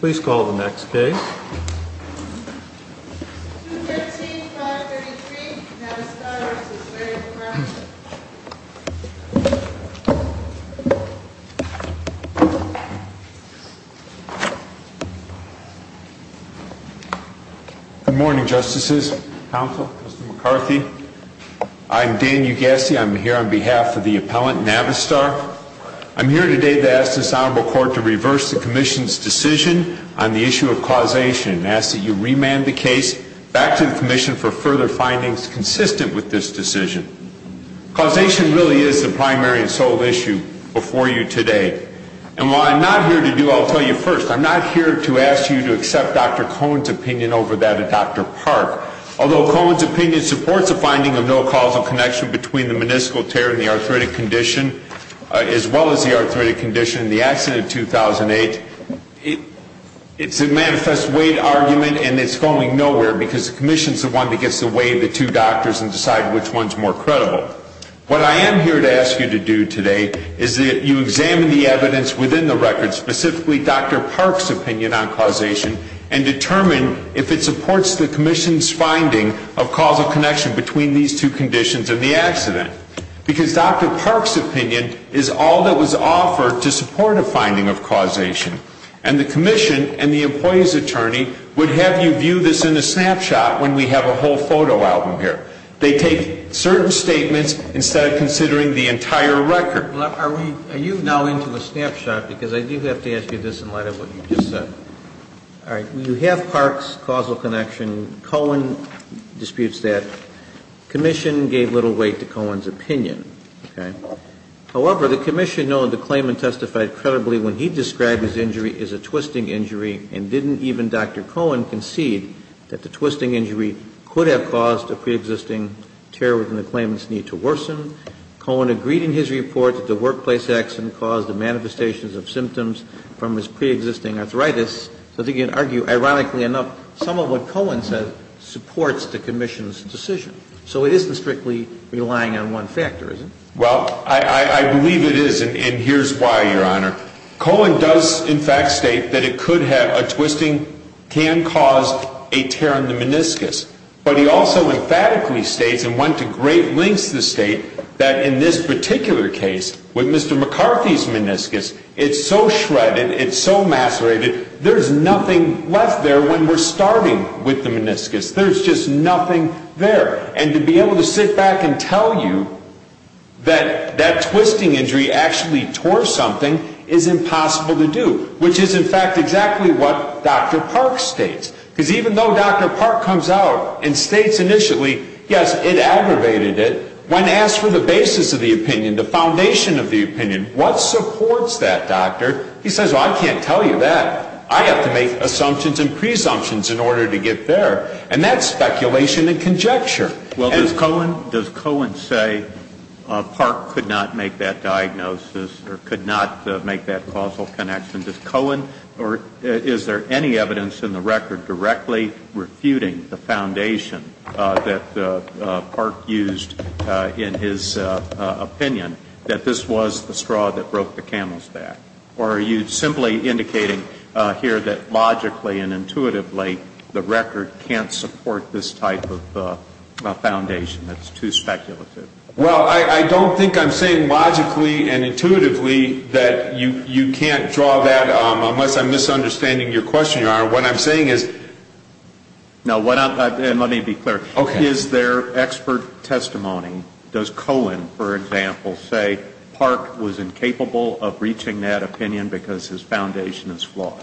Please call the next case. Good morning, Justices, Counsel, Mr. McCarthy. I'm Dan Ugassi. I'm here on behalf of the Commission on the issue of causation and ask that you remand the case back to the Commission for further findings consistent with this decision. Causation really is the primary and sole issue before you today. And while I'm not here to do it, I'll tell you first, I'm not here to ask you to accept Dr. Cohen's opinion over that of Dr. Park. Although Cohen's opinion supports the finding of no causal connection between the meniscal tear and the arthritic condition, as well as the arthritic condition and the accident of 2008, it's a manifest weight argument and it's going nowhere because the Commission's the one that gets to weigh the two doctors and decide which one's more credible. What I am here to ask you to do today is that you examine the evidence within the record, specifically Dr. Park's opinion on causation, and determine if it supports the Commission's finding of causal connection between these two conditions and the accident. Because Dr. Park's opinion supports the finding of causation. And the Commission and the employee's attorney would have you view this in a snapshot when we have a whole photo album here. They take certain statements instead of considering the entire record. Are we, are you now into the snapshot? Because I do have to ask you this in light of what you just said. All right. You have Park's causal connection. Cohen disputes that. Commission gave little weight to Cohen's opinion. Okay. However, the Commission, knowing the claim and testified credibly when he described his injury as a twisting injury and didn't even Dr. Cohen concede that the twisting injury could have caused a pre-existing tear within the claimant's knee to worsen. Cohen agreed in his report that the workplace accident caused the manifestations of symptoms from his pre-existing arthritis. So I think you can argue, ironically enough, some of what Cohen said supports the Commission's decision. So it isn't strictly relying on one factor, is it? Well, I believe it is. And here's why, Your Honor. Cohen does, in fact, state that it could have, a twisting can cause a tear in the meniscus. But he also emphatically states and went to great lengths to state that in this particular case, with Mr. McCarthy's meniscus, it's so shredded, it's so macerated, there's nothing left there when we're starting with the meniscus. There's just nothing there. And to be able to sit back and tell you that that twisting injury actually tore something is impossible to do, which is, in fact, exactly what Dr. Park states. Because even though Dr. Park comes out and states initially, yes, it aggravated it, when asked for the basis of the opinion, the foundation of the opinion, what supports that, doctor, he says, well, I can't tell you that. I have to make assumptions and presumptions in order to get there. And that's speculation and conjecture. Well, does Cohen say Park could not make that diagnosis or could not make that causal connection? Does Cohen, or is there any evidence in the record directly refuting the foundation that Park used in his opinion that this was the straw that broke the camel's back? Or are you simply indicating here that logically and intuitively the record can't support this type of foundation that's too speculative? Well, I don't think I'm saying logically and intuitively that you can't draw that, unless I'm misunderstanding your question, Your Honor. What I'm saying is... No, let me be clear. Is there expert testimony? Does Cohen, for example, say Park was incapable of reaching that opinion because his foundation is flawed?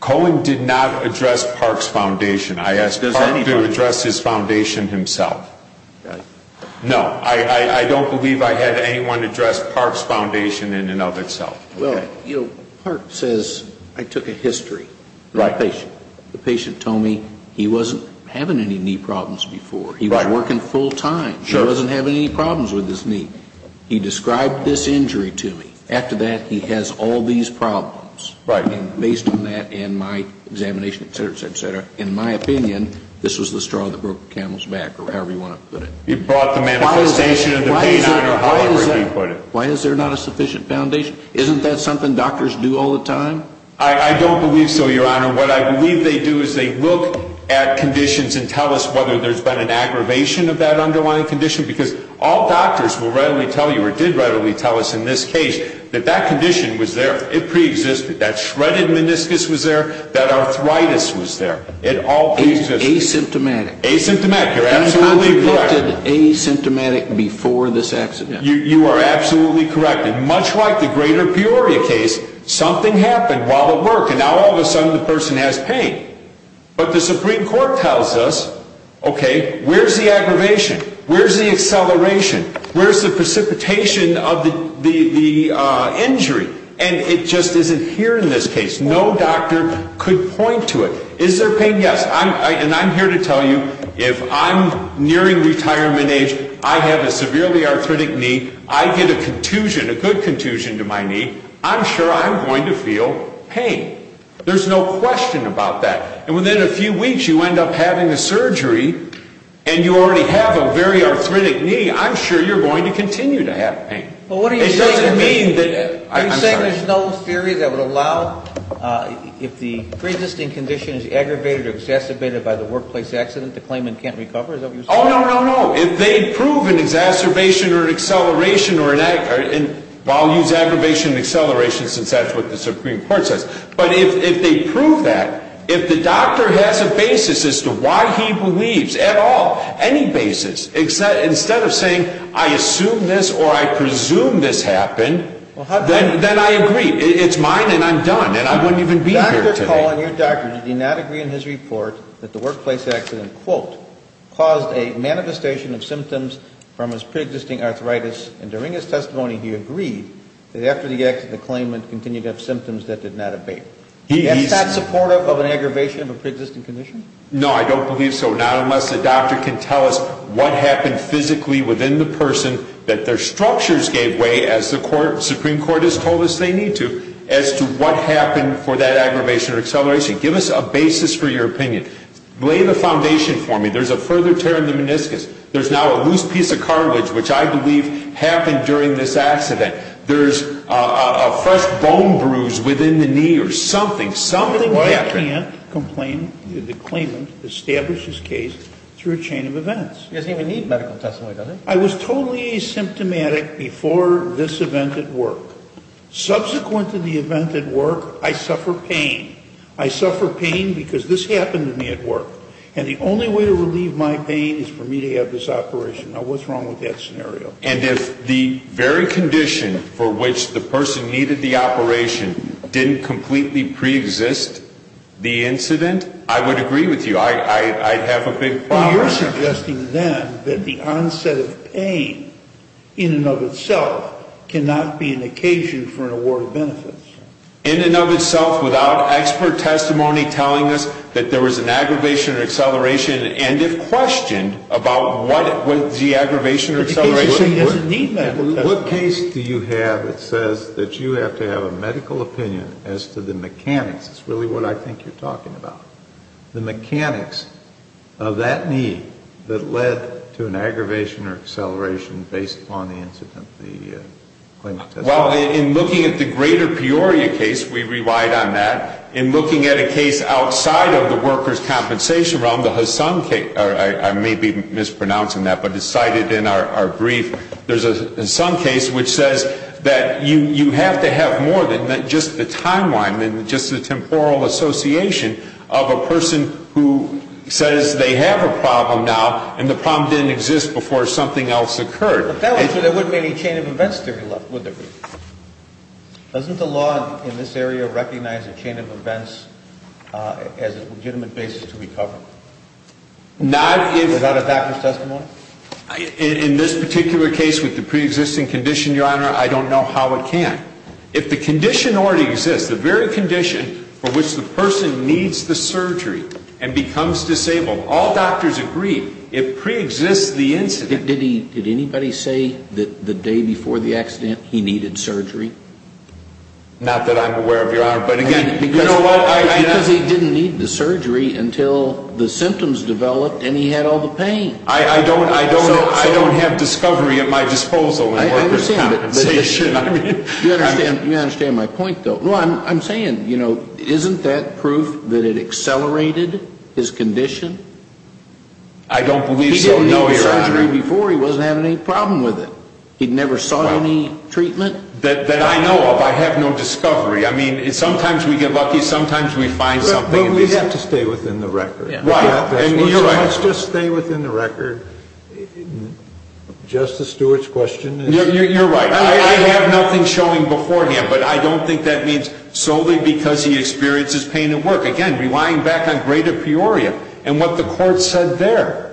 Cohen did not address Park's foundation. I asked Park to address his foundation himself. No, I don't believe I had anyone address Park's foundation in and of itself. Well, you know, Park says, I took a history of the patient. The patient told me he wasn't having any knee problems before. He was working full time. He wasn't having any problems with his knee. He described this injury to me. After that, he has all these problems. Right. And based on that and my examination, et cetera, et cetera, et cetera, in my opinion, this was the straw that broke the camel's back, or however you want to put it. You brought the manifestation of the patient, or however you put it. Why is there not a sufficient foundation? Isn't that something doctors do all the time? I don't believe so, Your Honor. What I believe they do is they look at conditions and tell us whether there's been an aggravation of that underlying condition because all doctors will readily tell you, or did readily tell us in this case, that that condition was there. It pre-existed. That shredded meniscus was there. That arthritis was there. It all pre-existed. Asymptomatic. Asymptomatic. You're absolutely correct. Asymptomatic before this accident. You are absolutely correct. And much like the greater Peoria case, something happened while at work, and now all of a sudden the person has pain. But the Supreme Court tells us, okay, where's the aggravation? Where's the acceleration? Where's the precipitation of the injury? And it just isn't here in this case. No doctor could point to it. Is there pain? Yes. And I'm here to tell you, if I'm nearing retirement age, I have a severely arthritic knee, I get a contusion, a good contusion to my knee, I'm sure I'm going to feel pain. There's no question about that. And within a few weeks, you end up having a surgery, and you already have a very arthritic knee, I'm sure you're going to continue to have pain. But what are you saying? It doesn't mean that, I'm sorry. Are you saying there's no theory that would allow, if the pre-existing condition is aggravated or exacerbated by the workplace accident, the claimant can't recover? Is that what you're saying? Oh, no, no, no. If they prove an exacerbation or an acceleration or an, well, I'll use the word exacerbation, but if they prove that, if the doctor has a basis as to why he believes at all, any basis, instead of saying, I assume this or I presume this happened, then I agree. It's mine and I'm done. And I wouldn't even be here today. Dr. Cullen, your doctor, did he not agree in his report that the workplace accident, quote, caused a manifestation of symptoms from his pre-existing arthritis? And during his testimony, he agreed that after the accident, the claimant continued to have symptoms that did not abate. Is that supportive of an aggravation of a pre-existing condition? No, I don't believe so. Not unless the doctor can tell us what happened physically within the person that their structures gave way, as the Supreme Court has told us they need to, as to what happened for that aggravation or acceleration. Give us a basis for your opinion. Lay the foundation for me. There's a further tear in the meniscus. There's now a loose piece of cartilage, which I believe happened during this accident. There's a fresh bone bruise within the knee or something. Something happened. I can't complain that the claimant established his case through a chain of events. He doesn't even need medical testimony, does he? I was totally asymptomatic before this event at work. Subsequent to the event at work, I suffer pain. I suffer pain because this happened to me at work. And the only way to And if the very condition for which the person needed the operation didn't completely pre-exist the incident, I would agree with you. I'd have a big problem. Well, you're suggesting then that the onset of pain in and of itself cannot be an occasion for an award of benefits. In and of itself, without expert testimony telling us that there was an aggravation or an aggravation, he doesn't need medical testimony. What case do you have that says that you have to have a medical opinion as to the mechanics? It's really what I think you're talking about. The mechanics of that knee that led to an aggravation or acceleration based upon the incident, the claimant testified. Well, in looking at the greater Peoria case, we rewrite on that. In looking at a case outside of the workers' compensation realm, the Hassan case, or I may be mispronouncing that, but it's there's in some case which says that you have to have more than just the timeline and just the temporal association of a person who says they have a problem now and the problem didn't exist before something else occurred. But that would mean there wouldn't be any chain of events theory left, would there be? Doesn't the law in this area recognize a chain of events as a legitimate basis to recover? Not if... Without a doctor's testimony? In this particular case with the pre-existing condition, Your Honor, I don't know how it can. If the condition already exists, the very condition for which the person needs the surgery and becomes disabled, all doctors agree it pre-exists the incident. Did he, did anybody say that the day before the accident he needed surgery? Not that I'm aware of, Your Honor, but again, you know what, I... Because he didn't need the surgery until the symptoms developed and he had all the pain. I don't, I don't, I don't have discovery at my disposal in workers' compensation, I mean... You understand, you understand my point, though. Well, I'm saying, you know, isn't that proof that it accelerated his condition? I don't believe so, no, Your Honor. He didn't need surgery before, he wasn't having any problem with it. He never saw any treatment? That I know of. I have no discovery. I mean, sometimes we get lucky, sometimes we find something. But we have to stay within the record. Right. Let's just stay within the record. Justice Stewart's question is... You're right, I have nothing showing beforehand, but I don't think that means solely because he experiences pain at work. Again, relying back on greater Peoria and what the court said there.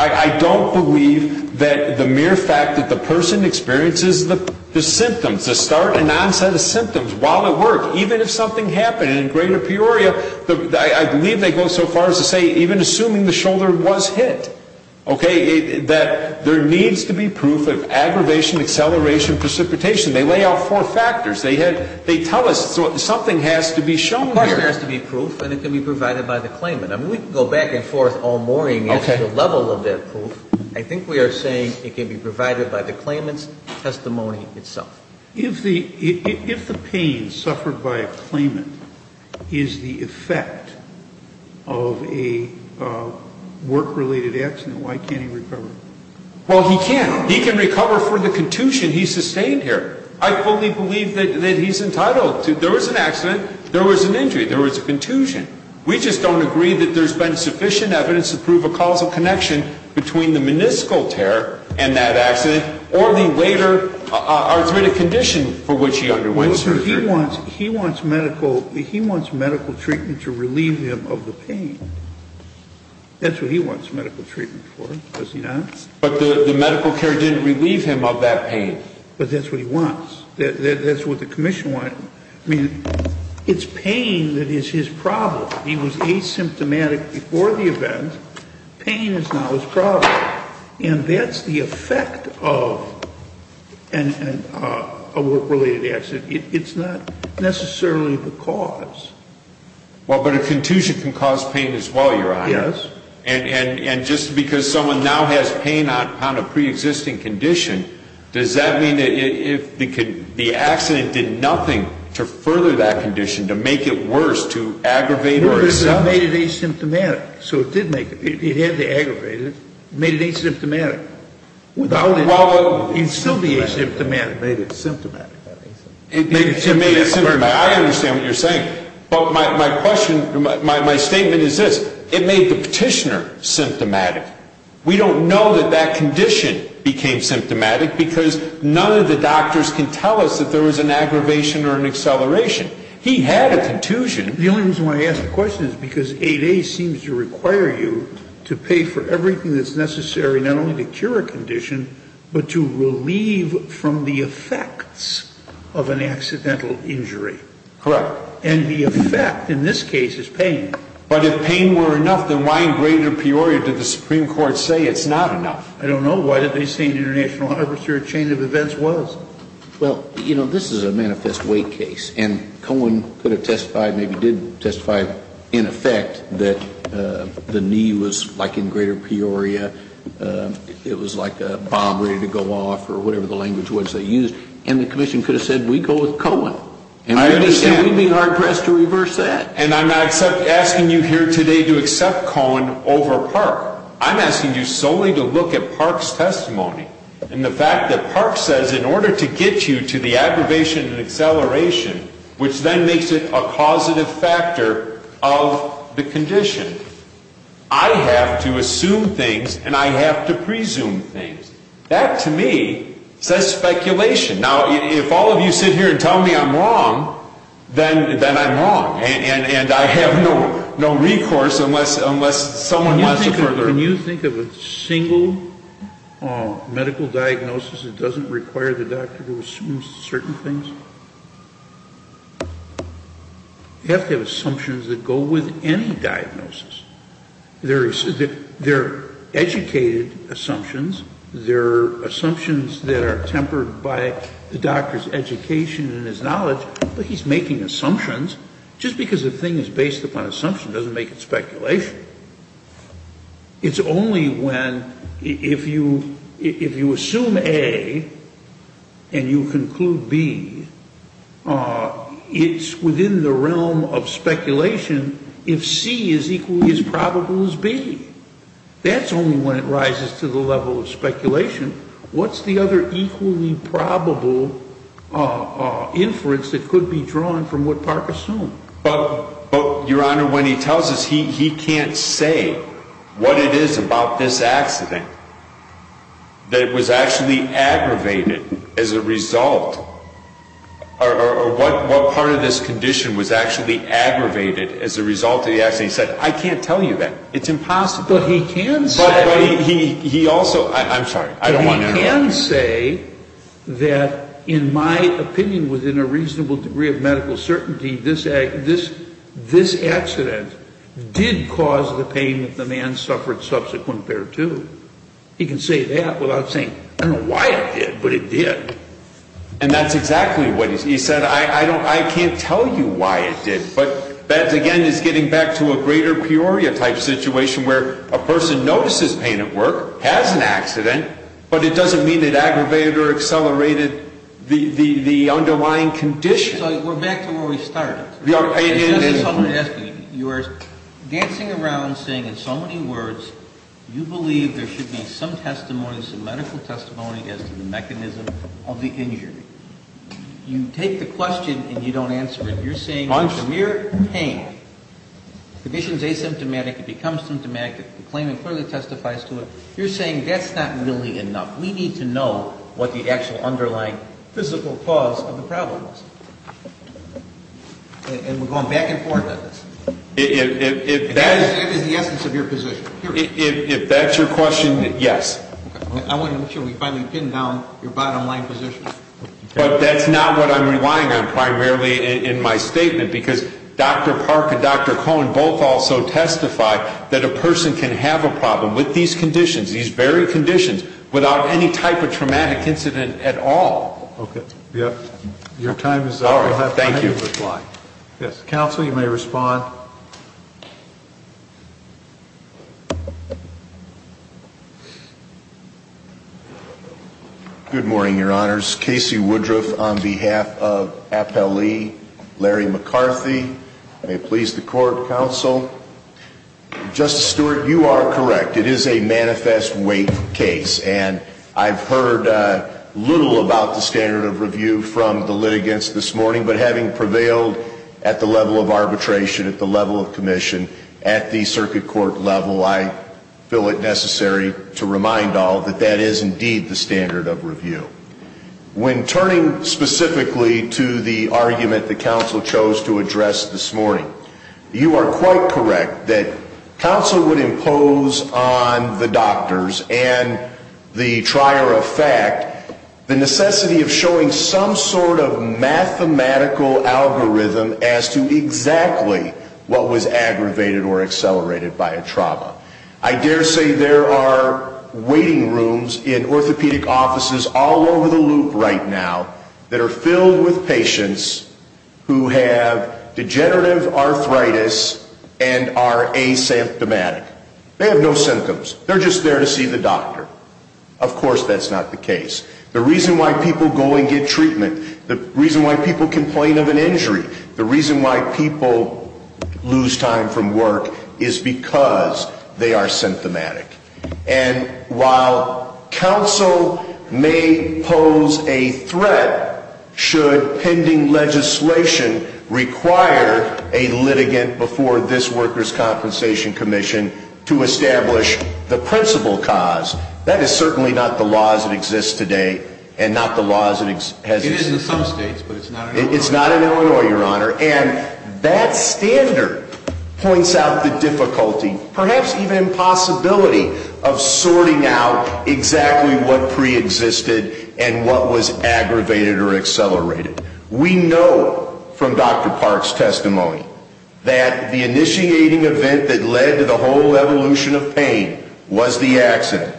I don't believe that the mere fact that the person experiences the symptoms, the start and onset of symptoms while at work, even if something happened in greater Peoria, I believe they go so far as to say even assuming the shoulder was hit, okay, that there needs to be proof of aggravation, acceleration, precipitation. They lay out four factors. They tell us something has to be shown here. Of course there has to be proof, and it can be provided by the claimant. I mean, we can go back and forth all morning as to the level of that proof. I think we are saying it can be provided by the claimant's testimony itself. If the pain suffered by a claimant is the effect of a work-related accident, why can't he recover? Well, he can. He can recover for the contusion he sustained here. I fully believe that he's entitled to... There was an accident, there was an injury, there was a contusion. We just don't agree that there's been sufficient evidence to prove a causal connection between the meniscal tear and that accident, or the later arthritic condition for which he underwent surgery. He wants medical treatment to relieve him of the pain. That's what he wants medical treatment for, does he not? But the medical care didn't relieve him of that pain. But that's what he wants. That's what the commission wants. I mean, it's pain that is his problem. He was asymptomatic before the event. Pain is now his problem. And that's the effect of a work-related accident. It's not necessarily the cause. Well, but a contusion can cause pain as well, Your Honor. Yes. And just because someone now has pain upon a pre-existing condition, does that mean that if the accident did nothing to further that condition, to make it worse, to aggravate or accept... So it did make it. It had to aggravate it. It made it asymptomatic. Without it, he'd still be asymptomatic. It made it symptomatic. It made it symptomatic. I understand what you're saying. But my question, my statement is this. It made the petitioner symptomatic. We don't know that that condition became symptomatic because none of the doctors can tell us that there was an aggravation or an acceleration. He had a contusion. The only reason why I ask the question is because 8A seems to require you to pay for everything that's necessary, not only to cure a condition, but to relieve from the effects of an accidental injury. Correct. And the effect, in this case, is pain. But if pain were enough, then why in greater peoria did the Supreme Court say it's not enough? I don't know. Why did they say an international harvester, a chain of events was? Well, you know, this is a manifest weight case. And Cohen could have testified, maybe did testify, in effect, that the knee was like in greater peoria. It was like a bomb ready to go off or whatever the language was they used. And the commission could have said, we go with Cohen. And we'd be hard pressed to reverse that. And I'm not asking you here today to accept Cohen over Park. I'm asking you solely to look at Park's testimony. And the fact that Park says, in order to get you to the aggravation and acceleration, which then makes it a causative factor of the condition, I have to assume things and I have to presume things. That, to me, says speculation. Now, if all of you sit here and tell me I'm wrong, then I'm wrong. And I have no recourse unless someone wants to further it. When you think of a single medical diagnosis, it doesn't require the doctor to assume certain things? You have to have assumptions that go with any diagnosis. There are educated assumptions. There are assumptions that are tempered by the doctor's education and his knowledge. But he's making assumptions just because the thing is based upon assumption doesn't make it speculation. It's only when, if you assume A and you conclude B, it's within the realm of speculation if C is equally as probable as B. That's only when it rises to the level of speculation. What's the other equally probable inference that could be drawn from what Park assumed? But, Your Honor, when he tells us, he can't say what it is about this accident that it was actually aggravated as a result, or what part of this condition was actually aggravated as a result of the accident. He said, I can't tell you that. It's impossible. But he can say that he also, I'm sorry. I don't want to interrupt. He can say that, in my opinion, within a reasonable degree of medical certainty, this accident did cause the pain that the man suffered subsequent thereto. He can say that without saying, I don't know why it did, but it did. And that's exactly what he said. I can't tell you why it did. But that, again, is getting back to a greater priori type situation where a person notices pain at work, has an accident, but it doesn't mean it aggravated or accelerated the underlying condition. We're back to where we started. Your Honor, this is something I'm asking you. You are dancing around saying in so many words, you believe there should be some testimony, some medical testimony as to the mechanism of the injury. You take the question and you don't answer it. You're saying it's a mere pain. The condition is asymptomatic. It becomes symptomatic. The claimant further testifies to it. You're saying that's not really enough. We need to know what the actual underlying physical cause of the problem is. And we're going back and forth on this. If that is the essence of your position. If that's your question, yes. I want to make sure we finally pin down your bottom line position. But that's not what I'm relying on primarily in my statement, because Dr. Park and Dr. Cohen both also testify that a person can have a problem with these conditions, these very conditions, without any type of traumatic incident at all. Okay. Your time is up. All right. Thank you. Counsel, you may respond. Good morning, Your Honors. Casey Woodruff on behalf of Appellee Larry McCarthy. May it please the Court, Counsel. Justice Stewart, you are correct. It is a manifest weight case. I've heard little about the standard of review from the litigants this morning. But having prevailed at the level of arbitration, at the level of commission, at the circuit court level, I feel it necessary to remind all that that is indeed the standard of review. When turning specifically to the argument that Counsel chose to address this morning, you are quite correct that Counsel would impose on the doctors and the trier of fact the necessity of showing some sort of mathematical algorithm as to exactly what was aggravated or accelerated by a trauma. I dare say there are waiting rooms in orthopedic offices all over the loop right now that are degenerative arthritis and are asymptomatic. They have no symptoms. They're just there to see the doctor. Of course, that's not the case. The reason why people go and get treatment, the reason why people complain of an injury, the reason why people lose time from work is because they are symptomatic. And while Counsel may pose a threat, should pending legislation require a litigant before this Workers' Compensation Commission to establish the principal cause, that is certainly not the law as it exists today and not the law as it has existed. It is in some states, but it's not in Illinois. It's not in Illinois, Your Honor. That standard points out the difficulty, perhaps even impossibility, of sorting out exactly what preexisted and what was aggravated or accelerated. We know from Dr. Park's testimony that the initiating event that led to the whole evolution of pain was the accident.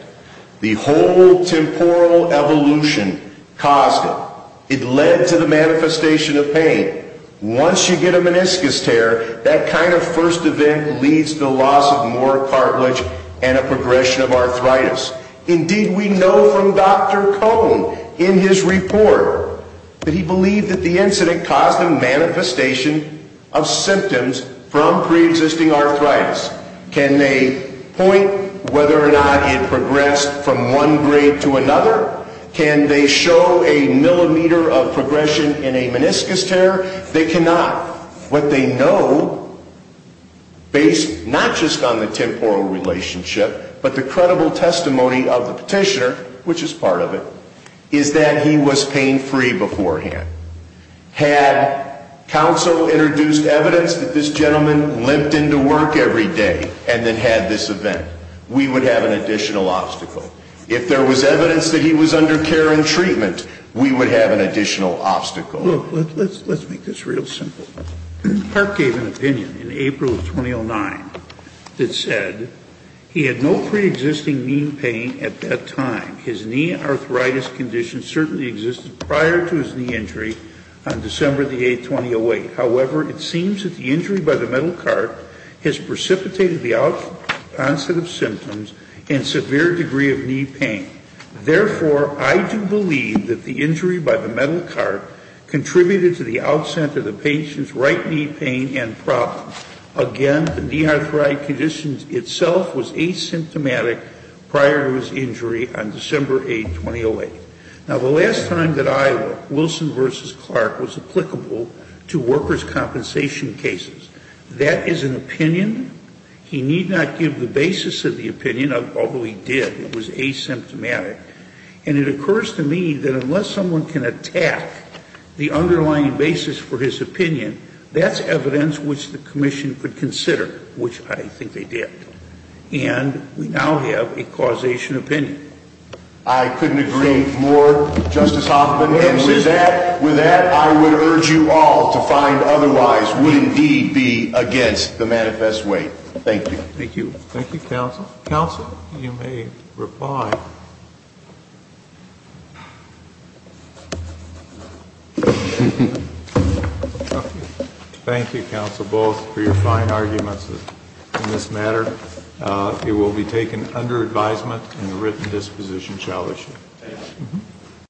The whole temporal evolution caused it. It led to the manifestation of pain. Once you get a meniscus tear, that kind of first event leads to the loss of more cartilage and a progression of arthritis. Indeed, we know from Dr. Cohn in his report that he believed that the incident caused a manifestation of symptoms from preexisting arthritis. Can they point whether or not it progressed from one grade to another? Can they show a millimeter of progression in a meniscus tear? They cannot. What they know, based not just on the temporal relationship, but the credible testimony of the petitioner, which is part of it, is that he was pain-free beforehand. Had counsel introduced evidence that this gentleman limped into work every day and then had this event, we would have an additional obstacle. If there was evidence that he was under care and treatment, we would have an additional obstacle. Look, let's make this real simple. Park gave an opinion in April of 2009 that said he had no preexisting knee pain at that time. His knee arthritis condition certainly existed prior to his knee injury on December the 8th, 2008. However, it seems that the injury by the metal cart has precipitated the onset of symptoms and severe degree of knee pain. Therefore, I do believe that the injury by the metal cart contributed to the outset of the patient's right knee pain and problem. Again, the knee arthritis condition itself was asymptomatic prior to his injury on December 8th, 2008. Now, the last time that I looked, Wilson v. Clark was applicable to workers' compensation cases. That is an opinion. He need not give the basis of the opinion, although he did. It was asymptomatic. And it occurs to me that unless someone can attack the underlying basis for his opinion, that's evidence which the commission could consider, which I think they did. And we now have a causation opinion. I couldn't agree more, Justice Hoffman. And with that, I would urge you all to find otherwise would indeed be against the manifest way. Thank you. Thank you. Thank you, counsel. Counsel, you may reply. Thank you, counsel, both for your fine arguments in this matter. It will be taken under advisement and the written disposition shall issue.